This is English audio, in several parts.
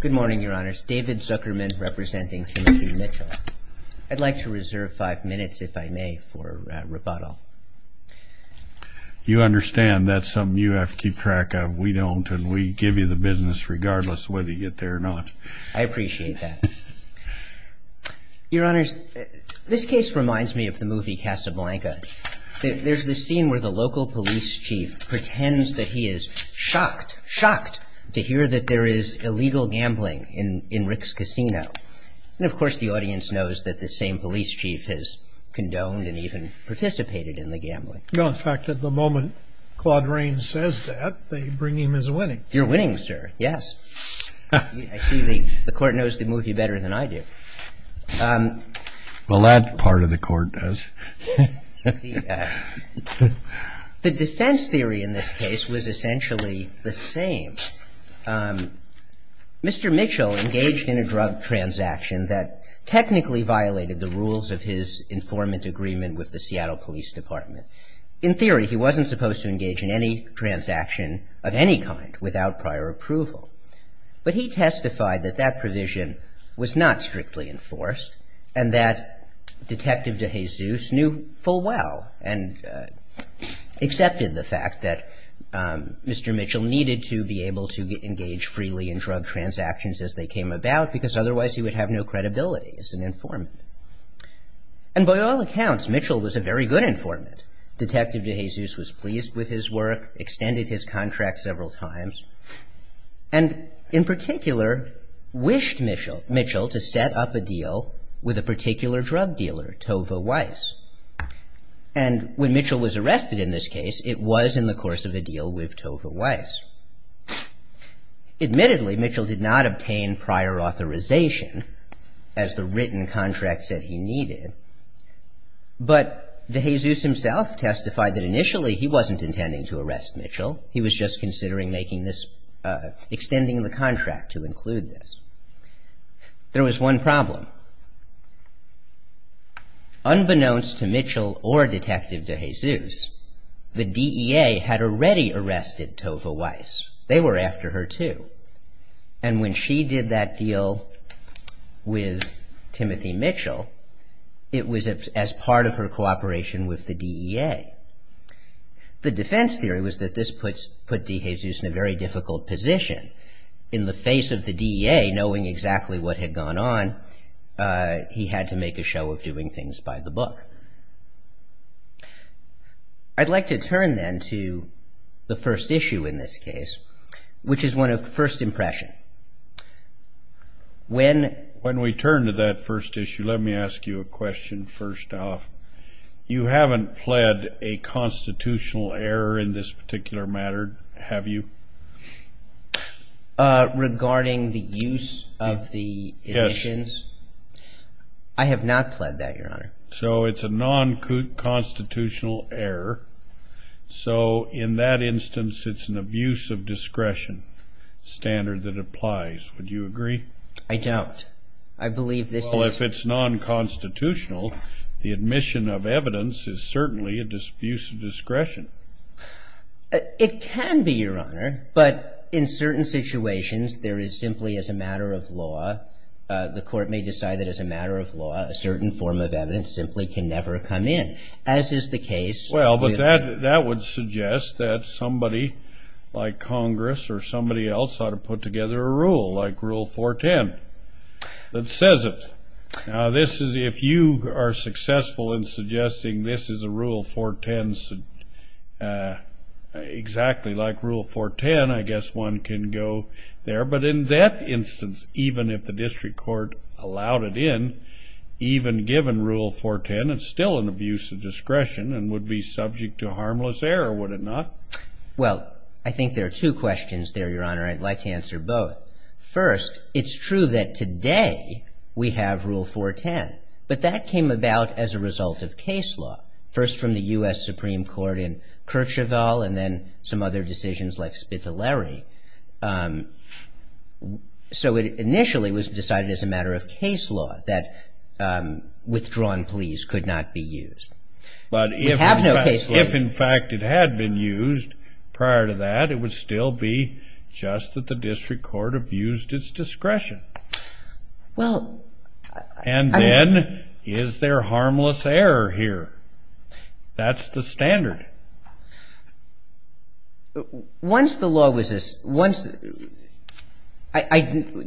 Good morning, Your Honors. David Zuckerman representing Timothy Mitchell. I'd like to reserve five minutes, if I may, for rebuttal. You understand that's something you have to keep track of. We don't, and we give you the business regardless of whether you get there or not. I appreciate that. Your Honors, this case reminds me of the movie Casablanca. There's this scene where the local police chief pretends that he is shocked, shocked, to hear that there is illegal gambling in Rick's Casino. And, of course, the audience knows that the same police chief has condoned and even participated in the gambling. In fact, at the moment Claude Raines says that, they bring him his winnings. Your winnings, sir, yes. I see the court knows the movie better than I do. Well, that part of the court does. The defense theory in this case was essentially the same. Mr. Mitchell engaged in a drug transaction that technically violated the rules of his informant agreement with the Seattle Police Department. In theory, he wasn't supposed to engage in any transaction of any kind without prior approval. But he testified that that provision was not strictly enforced and that Detective DeJesus knew full well and accepted the fact that Mr. Mitchell needed to be able to engage freely in drug transactions as they came about because otherwise he would have no credibility as an informant. And by all accounts, Mitchell was a very good informant. Detective DeJesus was pleased with his work, extended his contract several times, and in particular wished Mitchell to set up a deal with a particular drug dealer, Tova Weiss. And when Mitchell was arrested in this case, it was in the course of a deal with Tova Weiss. Admittedly, Mitchell did not obtain prior authorization as the written contract said he needed. But DeJesus himself testified that initially he wasn't intending to arrest Mitchell. He was just considering extending the contract to include this. There was one problem. Unbeknownst to Mitchell or Detective DeJesus, the DEA had already arrested Tova Weiss. They were after her, too. And when she did that deal with Timothy Mitchell, it was as part of her cooperation with the DEA. The defense theory was that this put DeJesus in a very difficult position. In the face of the DEA knowing exactly what had gone on, he had to make a show of doing things by the book. I'd like to turn then to the first issue in this case, which is one of first impression. When we turn to that first issue, let me ask you a question first off. You haven't pled a constitutional error in this particular matter, have you? Regarding the use of the emissions? Yes. I have not pled that, Your Honor. So it's a non-constitutional error. So in that instance, it's an abuse of discretion standard that applies. Would you agree? I don't. I believe this is- Well, if it's non-constitutional, the admission of evidence is certainly an abuse of discretion. It can be, Your Honor. But in certain situations, there is simply, as a matter of law, the court may decide that as a matter of law, a certain form of evidence simply can never come in, as is the case- Well, that would suggest that somebody like Congress or somebody else ought to put together a rule like Rule 410 that says it. Now, if you are successful in suggesting this is a Rule 410, exactly like Rule 410, I guess one can go there. But in that instance, even if the district court allowed it in, even given Rule 410, it's still an abuse of discretion and would be subject to harmless error, would it not? Well, I think there are two questions there, Your Honor. I'd like to answer both. First, it's true that today we have Rule 410, but that came about as a result of case law, first from the U.S. Supreme Court in Kercheval and then some other decisions like Spitaleri. So it initially was decided as a matter of case law that withdrawn pleas could not be used. We have no case law- But if, in fact, it had been used prior to that, it would still be just that the district court abused its discretion. Well- And then is there harmless error here? That's the standard. Once the law was-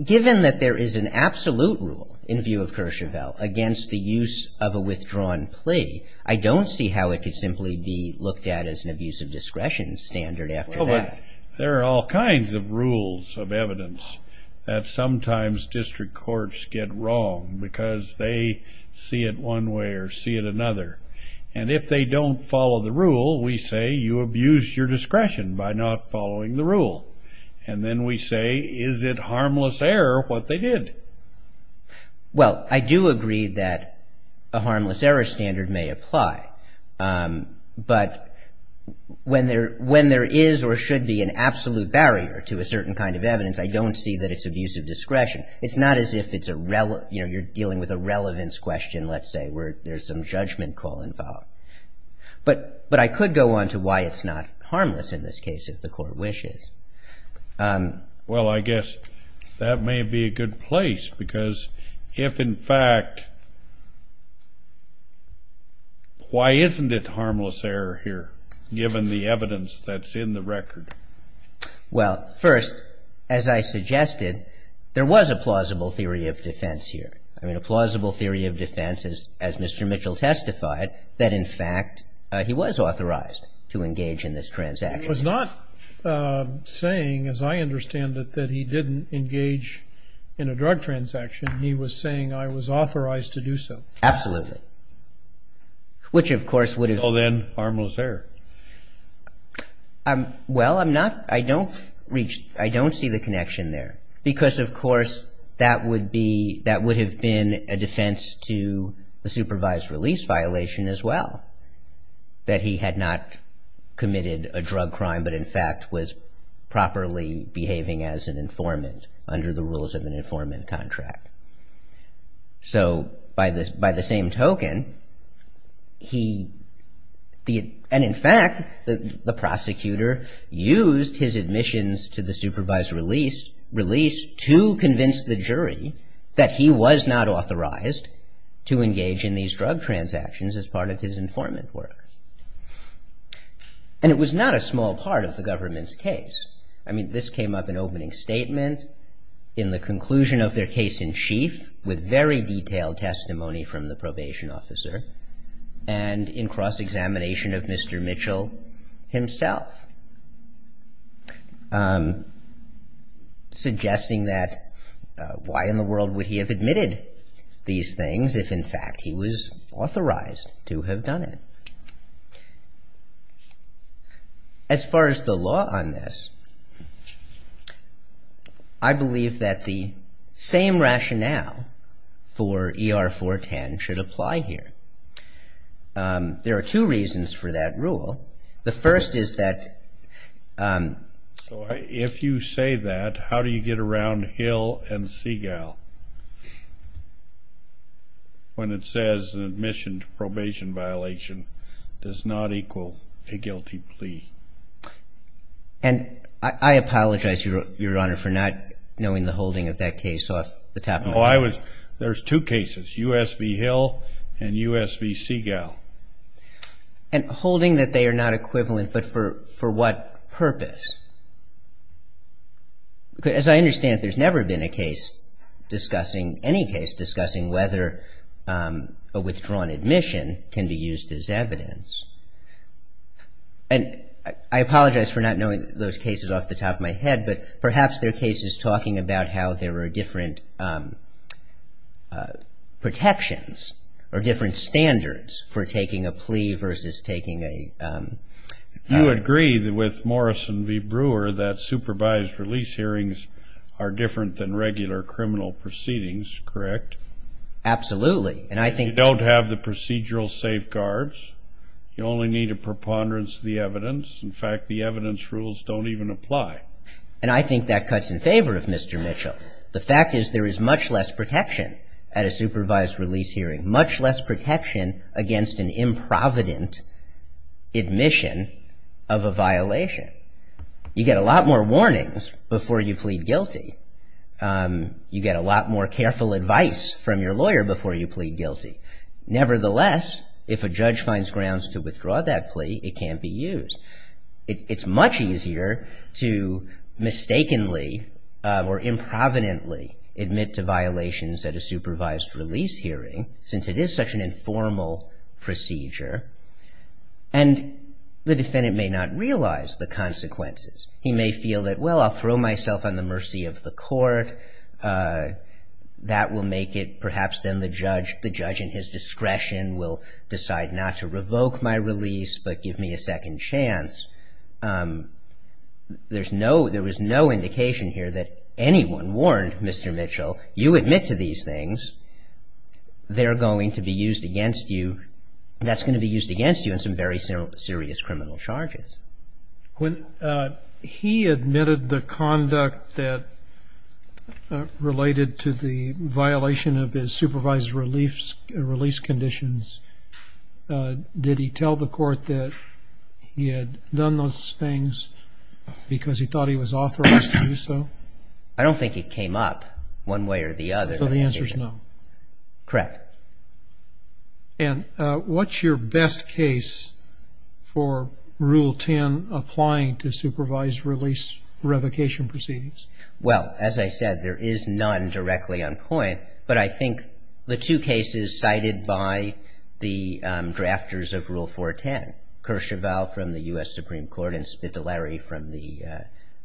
Given that there is an absolute rule in view of Kercheval against the use of a withdrawn plea, I don't see how it could simply be looked at as an abuse of discretion standard after that. There are all kinds of rules of evidence that sometimes district courts get wrong because they see it one way or see it another. And if they don't follow the rule, we say, you abused your discretion by not following the rule. And then we say, is it harmless error what they did? Well, I do agree that a harmless error standard may apply. But when there is or should be an absolute barrier to a certain kind of evidence, I don't see that it's abuse of discretion. It's not as if you're dealing with a relevance question, let's say, where there's some judgment call involved. But I could go on to why it's not harmless in this case if the court wishes. Well, I guess that may be a good place because if, in fact, why isn't it harmless error here, given the evidence that's in the record? Well, first, as I suggested, there was a plausible theory of defense here. I mean, a plausible theory of defense is, as Mr. Mitchell testified, that, in fact, he was authorized to engage in this transaction. He was not saying, as I understand it, that he didn't engage in a drug transaction. He was saying, I was authorized to do so. Absolutely. Which, of course, would have been harmless error. Well, I'm not, I don't reach, I don't see the connection there. Because, of course, that would be, that would have been a defense to the supervised release violation as well, that he had not committed a drug crime, but, in fact, was properly behaving as an informant under the rules of an informant contract. So, by the same token, he, and, in fact, the prosecutor used his admissions to the supervised release to convince the jury that he was not authorized to engage in these drug transactions as part of his informant work. And it was not a small part of the government's case. I mean, this came up in opening statement, in the conclusion of their case in chief, with very detailed testimony from the probation officer, and in cross-examination of Mr. Mitchell himself. Suggesting that, why in the world would he have admitted these things if, in fact, he was authorized to have done it? As far as the law on this, I believe that the same rationale for ER-410 should apply here. There are two reasons for that rule. The first is that... So, if you say that, how do you get around Hill and Seagal? When it says an admission to probation violation does not equal a guilty plea. And I apologize, Your Honor, for not knowing the holding of that case off the top of my head. Oh, I was... There's two cases, US v. Hill and US v. Seagal. And holding that they are not equivalent, but for what purpose? Because, as I understand, there's never been a case discussing, any case discussing, whether a withdrawn admission can be used as evidence. And I apologize for not knowing those cases off the top of my head, but perhaps their case is talking about how there are different protections or different standards for taking a plea versus taking a... You agree with Morrison v. Brewer that supervised release hearings are different than regular criminal proceedings, correct? Absolutely, and I think... You don't have the procedural safeguards. You only need a preponderance of the evidence. In fact, the evidence rules don't even apply. And I think that cuts in favor of Mr. Mitchell. The fact is there is much less protection at a supervised release hearing, much less protection against an improvident admission of a violation. You get a lot more warnings before you plead guilty. You get a lot more careful advice from your lawyer before you plead guilty. Nevertheless, if a judge finds grounds to withdraw that plea, it can't be used. It's much easier to mistakenly or improvidently admit to violations at a supervised release hearing, since it is such an informal procedure, and the defendant may not realize the consequences. He may feel that, well, I'll throw myself on the mercy of the court. That will make it perhaps then the judge, the judge in his discretion, will decide not to revoke my release but give me a second chance. There is no indication here that anyone warned Mr. Mitchell, you admit to these things, they're going to be used against you. That's going to be used against you in some very serious criminal charges. When he admitted the conduct that related to the violation of his supervised release conditions, did he tell the court that he had done those things because he thought he was authorized to do so? I don't think it came up one way or the other. So the answer is no? Correct. And what's your best case for Rule 10, applying to supervised release revocation proceedings? Well, as I said, there is none directly on point, but I think the two cases cited by the drafters of Rule 410, Kershaval from the U.S. Supreme Court and Spitaleri from the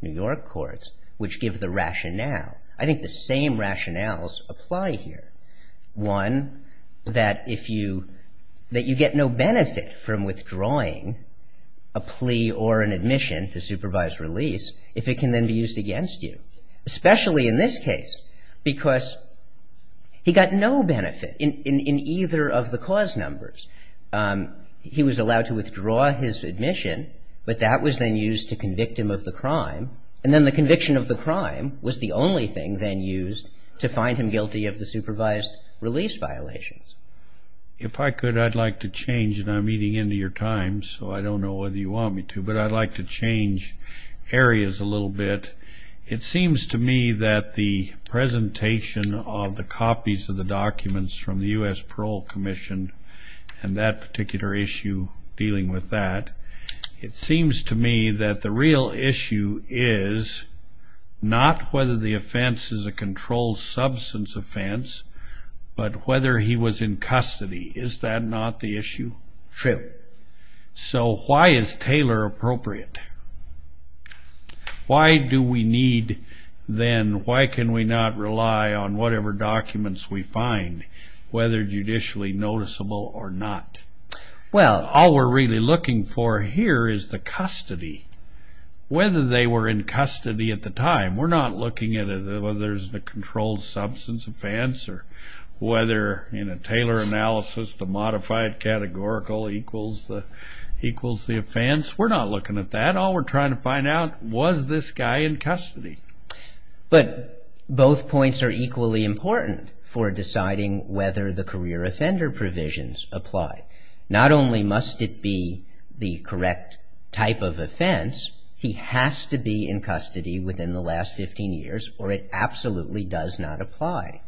New York courts, which give the rationale. I think the same rationales apply here. One, that you get no benefit from withdrawing a plea or an admission to supervised release if it can then be used against you, especially in this case because he got no benefit in either of the cause numbers. He was allowed to withdraw his admission, but that was then used to convict him of the crime, and then the conviction of the crime was the only thing then used to find him guilty of the supervised release violations. If I could, I'd like to change, and I'm eating into your time, so I don't know whether you want me to, but I'd like to change areas a little bit. It seems to me that the presentation of the copies of the documents from the U.S. Parole Commission and that particular issue dealing with that, it seems to me that the real issue is not whether the offense is a controlled substance offense, but whether he was in custody. Is that not the issue? True. So why is Taylor appropriate? Why do we need then, why can we not rely on whatever documents we find, whether judicially noticeable or not? All we're really looking for here is the custody, whether they were in custody at the time. We're not looking at whether there's a controlled substance offense or whether in a Taylor analysis the modified categorical equals the offense. We're not looking at that. All we're trying to find out was this guy in custody. But both points are equally important for deciding whether the career offender provisions apply. Not only must it be the correct type of offense, he has to be in custody within the last 15 years or it absolutely does not apply.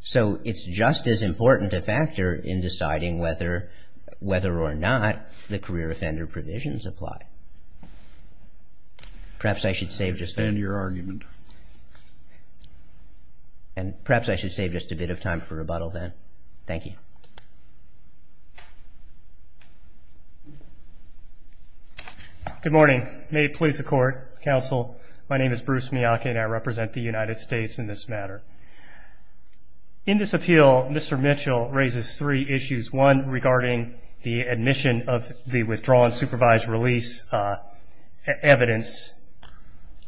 So it's just as important a factor in deciding whether or not the career offender provisions apply. Perhaps I should save just a bit of time for rebuttal then. Thank you. Good morning. May it please the Court, Counsel, my name is Bruce Miyake and I represent the United States in this matter. In this appeal, Mr. Mitchell raises three issues, one regarding the admission of the withdrawn supervised release evidence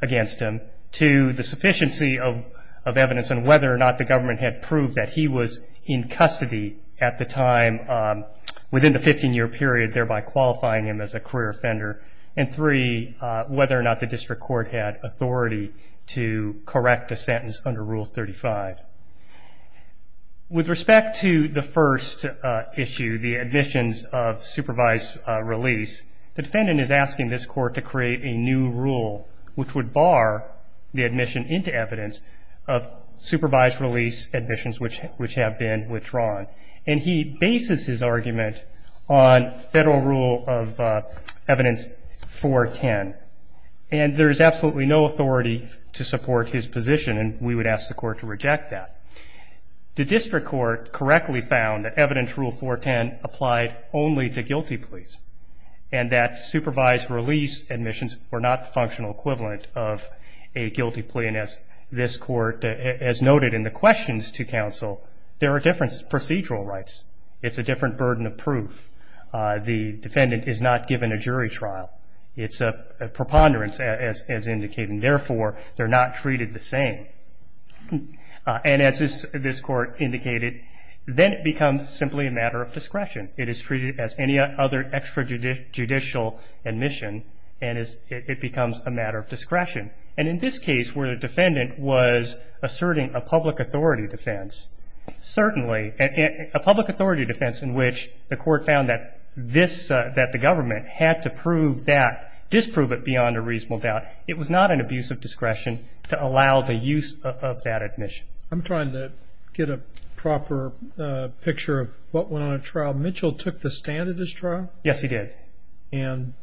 against him. Two, the sufficiency of evidence and whether or not the government had proved that he was in custody at the time within the 15-year period, thereby qualifying him as a career offender. And three, whether or not the district court had authority to correct the sentence under Rule 35. With respect to the first issue, the admissions of supervised release, the defendant is asking this Court to create a new rule which would bar the admission into evidence of supervised release admissions which have been withdrawn. And he bases his argument on Federal Rule of Evidence 410. And there is absolutely no authority to support his position and we would ask the Court to reject that. The district court correctly found that Evidence Rule 410 applied only to guilty pleas and that supervised release admissions were not the functional equivalent of a guilty plea. And as this Court has noted in the questions to Counsel, there are different procedural rights. It's a different burden of proof. The defendant is not given a jury trial. It's a preponderance, as indicated, and therefore they're not treated the same. And as this Court indicated, then it becomes simply a matter of discretion. It is treated as any other extrajudicial admission and it becomes a matter of discretion. And in this case where the defendant was asserting a public authority defense, certainly a public authority defense in which the Court found that this, that the government had to prove that, disprove it beyond a reasonable doubt, it was not an abuse of discretion to allow the use of that admission. I'm trying to get a proper picture of what went on at trial. Mitchell took the stand at this trial? Yes, he did. And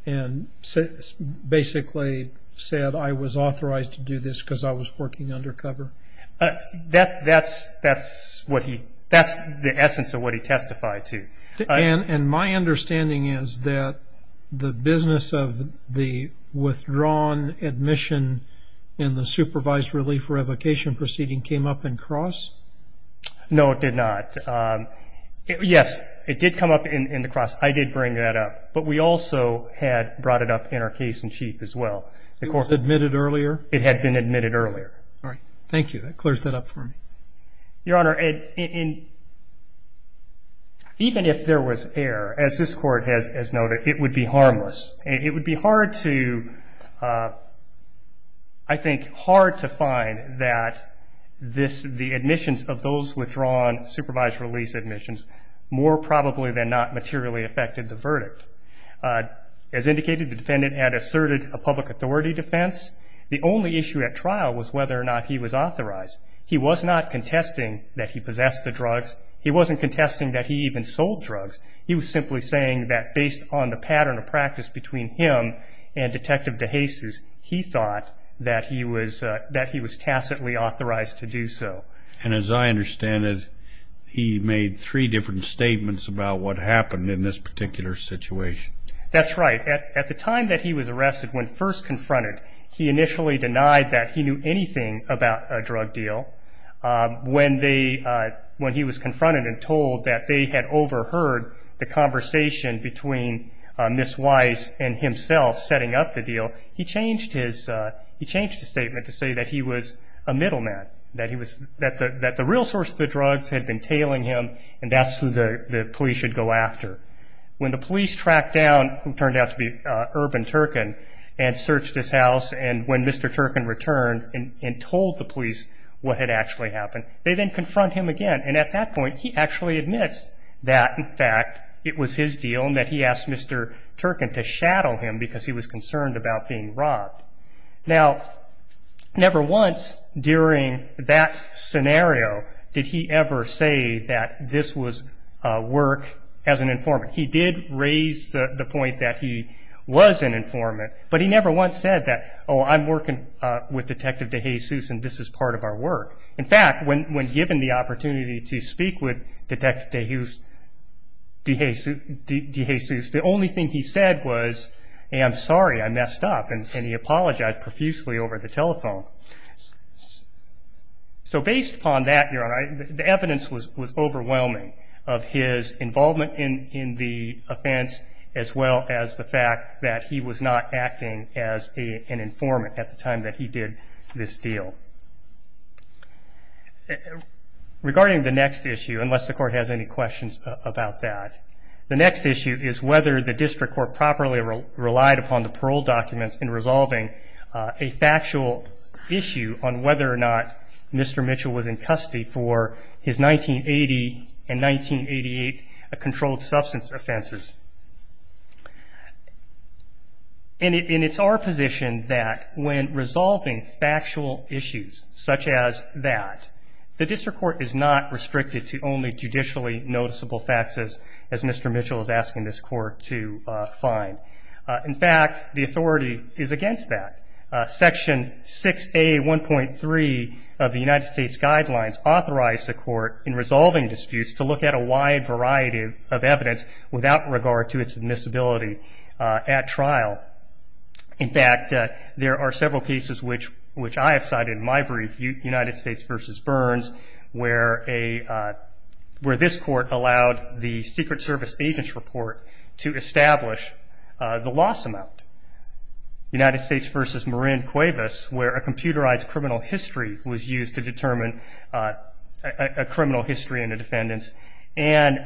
basically said, I was authorized to do this because I was working undercover? That's what he, that's the essence of what he testified to. And my understanding is that the business of the withdrawn admission and the supervised relief revocation proceeding came up in cross? No, it did not. Yes, it did come up in the cross. I did bring that up. But we also had brought it up in our case in chief as well. It was admitted earlier? It had been admitted earlier. All right. Thank you. That clears that up for me. Your Honor, even if there was error, as this Court has noted, it would be harmless. It would be hard to, I think, hard to find that the admissions of those withdrawn supervised release admissions more probably than not materially affected the verdict. As indicated, the defendant had asserted a public authority defense. The only issue at trial was whether or not he was authorized. He was not contesting that he possessed the drugs. He wasn't contesting that he even sold drugs. He was simply saying that based on the pattern of practice between him and Detective DeJesus, he thought that he was tacitly authorized to do so. And as I understand it, he made three different statements about what happened in this particular situation. That's right. At the time that he was arrested, when first confronted, he initially denied that he knew anything about a drug deal. When he was confronted and told that they had overheard the conversation between Ms. Weiss and himself setting up the deal, he changed his statement to say that he was a middleman, that the real source of the drugs had been tailing him and that's who the police should go after. When the police tracked down what turned out to be Urban Turkin and searched his house and when Mr. Turkin returned and told the police what had actually happened, they then confront him again. And at that point, he actually admits that, in fact, it was his deal and that he asked Mr. Turkin to shadow him because he was concerned about being robbed. Now, never once during that scenario did he ever say that this was work as an informant. He did raise the point that he was an informant, but he never once said that, oh, I'm working with Detective DeJesus and this is part of our work. In fact, when given the opportunity to speak with Detective DeJesus, the only thing he said was, hey, I'm sorry, I messed up, and he apologized profusely over the telephone. So based upon that, Your Honor, the evidence was overwhelming of his involvement in the offense as well as the fact that he was not acting as an informant at the time that he did this deal. Regarding the next issue, unless the court has any questions about that, the next issue is whether the district court properly relied upon the parole documents in resolving a factual issue on whether or not Mr. Mitchell was in custody for his 1980 and 1988 controlled substance offenses. And it's our position that when resolving factual issues such as that, the district court is not restricted to only judicially noticeable facts, as Mr. Mitchell is asking this court to find. In fact, the authority is against that. Section 6A.1.3 of the United States Guidelines authorized the court in resolving disputes to look at a wide variety of evidence without regard to its admissibility at trial. In fact, there are several cases which I have cited in my brief, United States v. Burns, where this court allowed the Secret Service agent's report to establish the loss amount. United States v. Marin Cuevas, where a computerized criminal history was used to determine a criminal history and a defendant's, and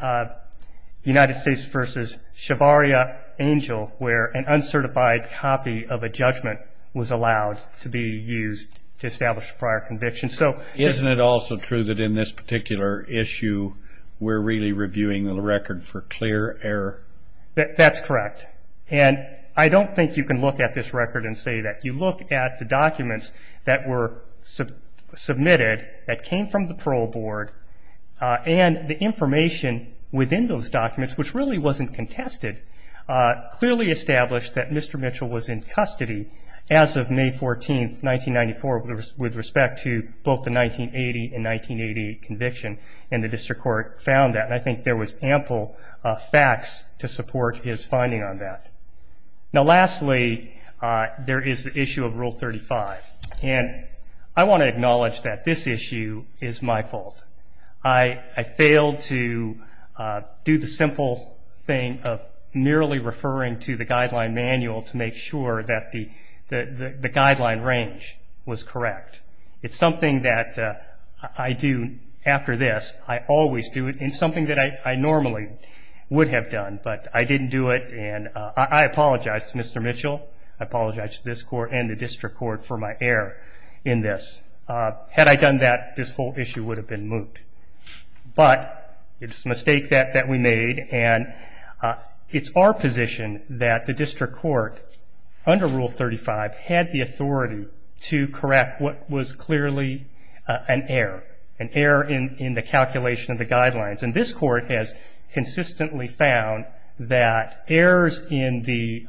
United States v. Shavaria Angel, where an uncertified copy of a judgment was allowed to be used to establish prior convictions. Isn't it also true that in this particular issue we're really reviewing the record for clear error? That's correct. And I don't think you can look at this record and say that. You look at the documents that were submitted that came from the parole board, and the information within those documents, which really wasn't contested, clearly established that Mr. Mitchell was in custody as of May 14, 1994, with respect to both the 1980 and 1988 conviction, and the district court found that. And I think there was ample facts to support his finding on that. Now, lastly, there is the issue of Rule 35. And I want to acknowledge that this issue is my fault. I failed to do the simple thing of merely referring to the guideline manual to make sure that the guideline range was correct. It's something that I do after this. I always do it. It's something that I normally would have done, but I didn't do it. And I apologize to Mr. Mitchell. I apologize to this court and the district court for my error in this. Had I done that, this whole issue would have been moot. But it's a mistake that we made, and it's our position that the district court, under Rule 35, had the authority to correct what was clearly an error, an error in the calculation of the guidelines. And this court has consistently found that errors in the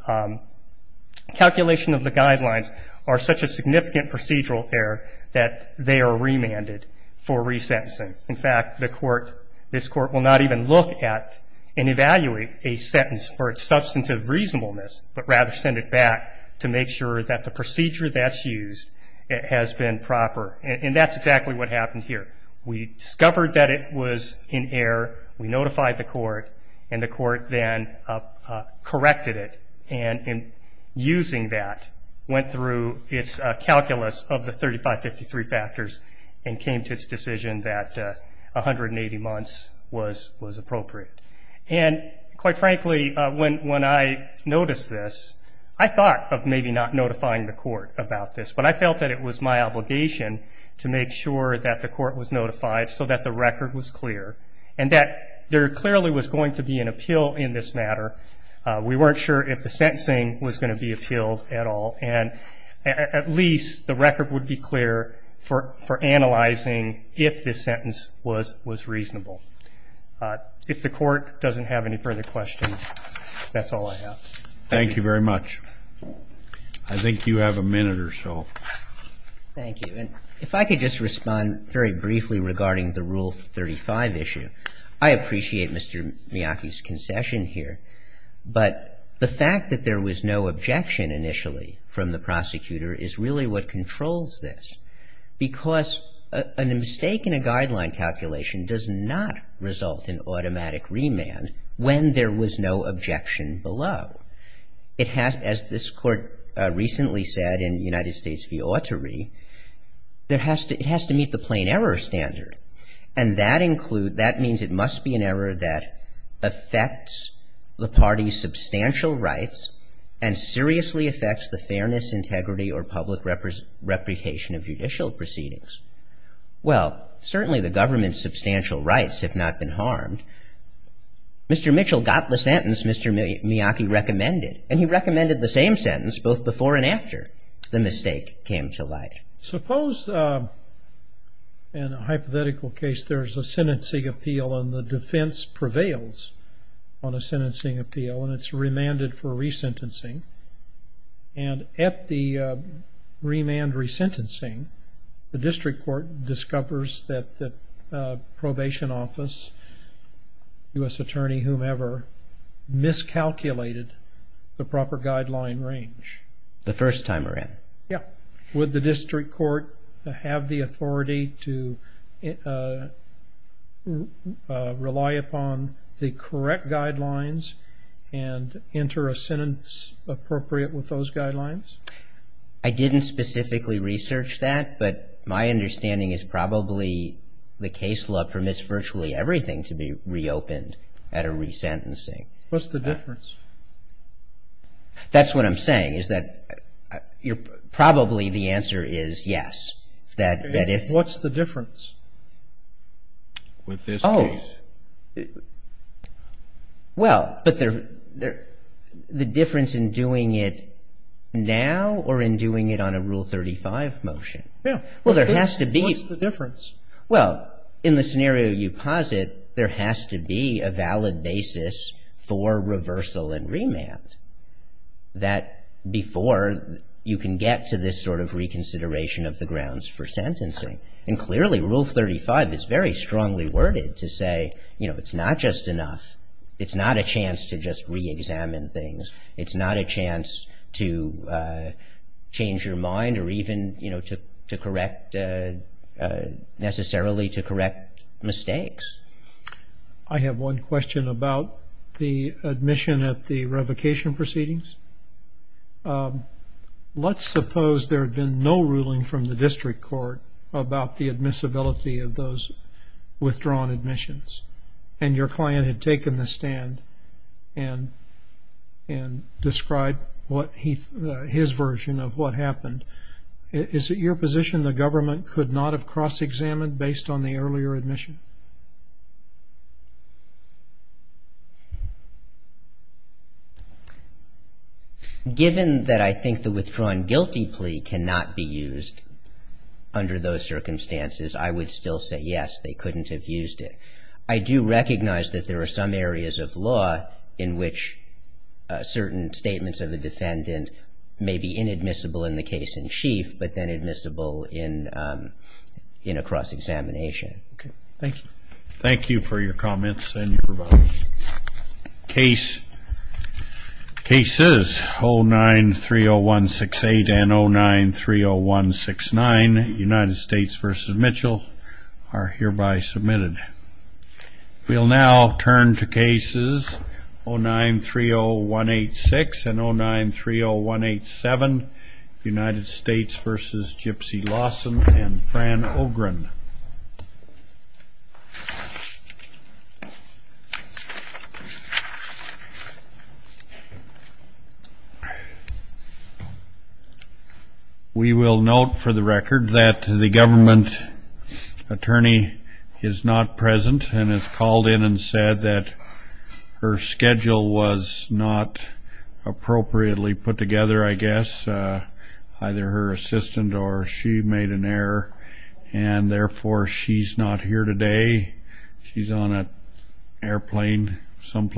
calculation of the guidelines are such a significant procedural error that they are remanded for resentencing. In fact, this court will not even look at and evaluate a sentence for its substantive reasonableness, but rather send it back to make sure that the procedure that's used has been proper. And that's exactly what happened here. We discovered that it was an error. We notified the court, and the court then corrected it. And in using that, went through its calculus of the 3553 factors and came to its decision that 180 months was appropriate. And quite frankly, when I noticed this, I thought of maybe not notifying the court about this, but I felt that it was my obligation to make sure that the court was notified so that the record was clear and that there clearly was going to be an appeal in this matter. We weren't sure if the sentencing was going to be appealed at all, and at least the record would be clear for analyzing if this sentence was reasonable. If the court doesn't have any further questions, that's all I have. Thank you very much. I think you have a minute or so. Thank you. If I could just respond very briefly regarding the Rule 35 issue. I appreciate Mr. Miyake's concession here, but the fact that there was no objection initially from the prosecutor is really what controls this. Because a mistake in a guideline calculation does not result in automatic remand when there was no objection below. It has, as this court recently said in United States v. Autorey, it has to meet the plain error standard. And that includes, that means it must be an error that affects the party's substantial rights and seriously affects the fairness, integrity, or public reputation of judicial proceedings. Well, certainly the government's substantial rights have not been harmed. Mr. Mitchell got the sentence Mr. Miyake recommended, and he recommended the same sentence both before and after the mistake came to light. Suppose in a hypothetical case there's a sentencing appeal and the defense prevails on a sentencing appeal, and it's remanded for resentencing. And at the remand resentencing, the district court discovers that the probation office, U.S. attorney, whomever, miscalculated the proper guideline range. The first time around. Yeah. Would the district court have the authority to rely upon the correct guidelines and enter a sentence appropriate with those guidelines? I didn't specifically research that, but my understanding is probably the case law permits virtually everything to be reopened at a resentencing. What's the difference? That's what I'm saying, is that probably the answer is yes. What's the difference with this case? Well, but the difference in doing it now or in doing it on a Rule 35 motion? Yeah. Well, there has to be. What's the difference? Well, in the scenario you posit, there has to be a valid basis for reversal and remand that before you can get to this sort of reconsideration of the grounds for sentencing. And clearly, Rule 35 is very strongly worded to say, you know, it's not just enough. It's not a chance to just reexamine things. It's not a chance to change your mind or even, you know, to correct necessarily to correct mistakes. I have one question about the admission at the revocation proceedings. Let's suppose there had been no ruling from the district court about the admissibility of those withdrawn admissions and your client had taken the stand and described his version of what happened. Is it your position the government could not have cross-examined based on the earlier admission? Given that I think the withdrawn guilty plea cannot be used under those circumstances, I would still say yes, they couldn't have used it. I do recognize that there are some areas of law in which certain statements of a defendant may be inadmissible in the case in chief, but then admissible in a cross-examination. Okay. Thank you. Thank you for your comments and your provision. Cases 09-30168 and 09-30169, United States v. Mitchell, are hereby submitted. We'll now turn to cases 09-30186 and 09-30187, United States v. Gypsy Lawson and Fran Ogren. We will note for the record that the government attorney is not present and has called in and said that her schedule was not appropriately put together, I guess, either her assistant or she made an error, and therefore she's not here today. She's on an airplane someplace.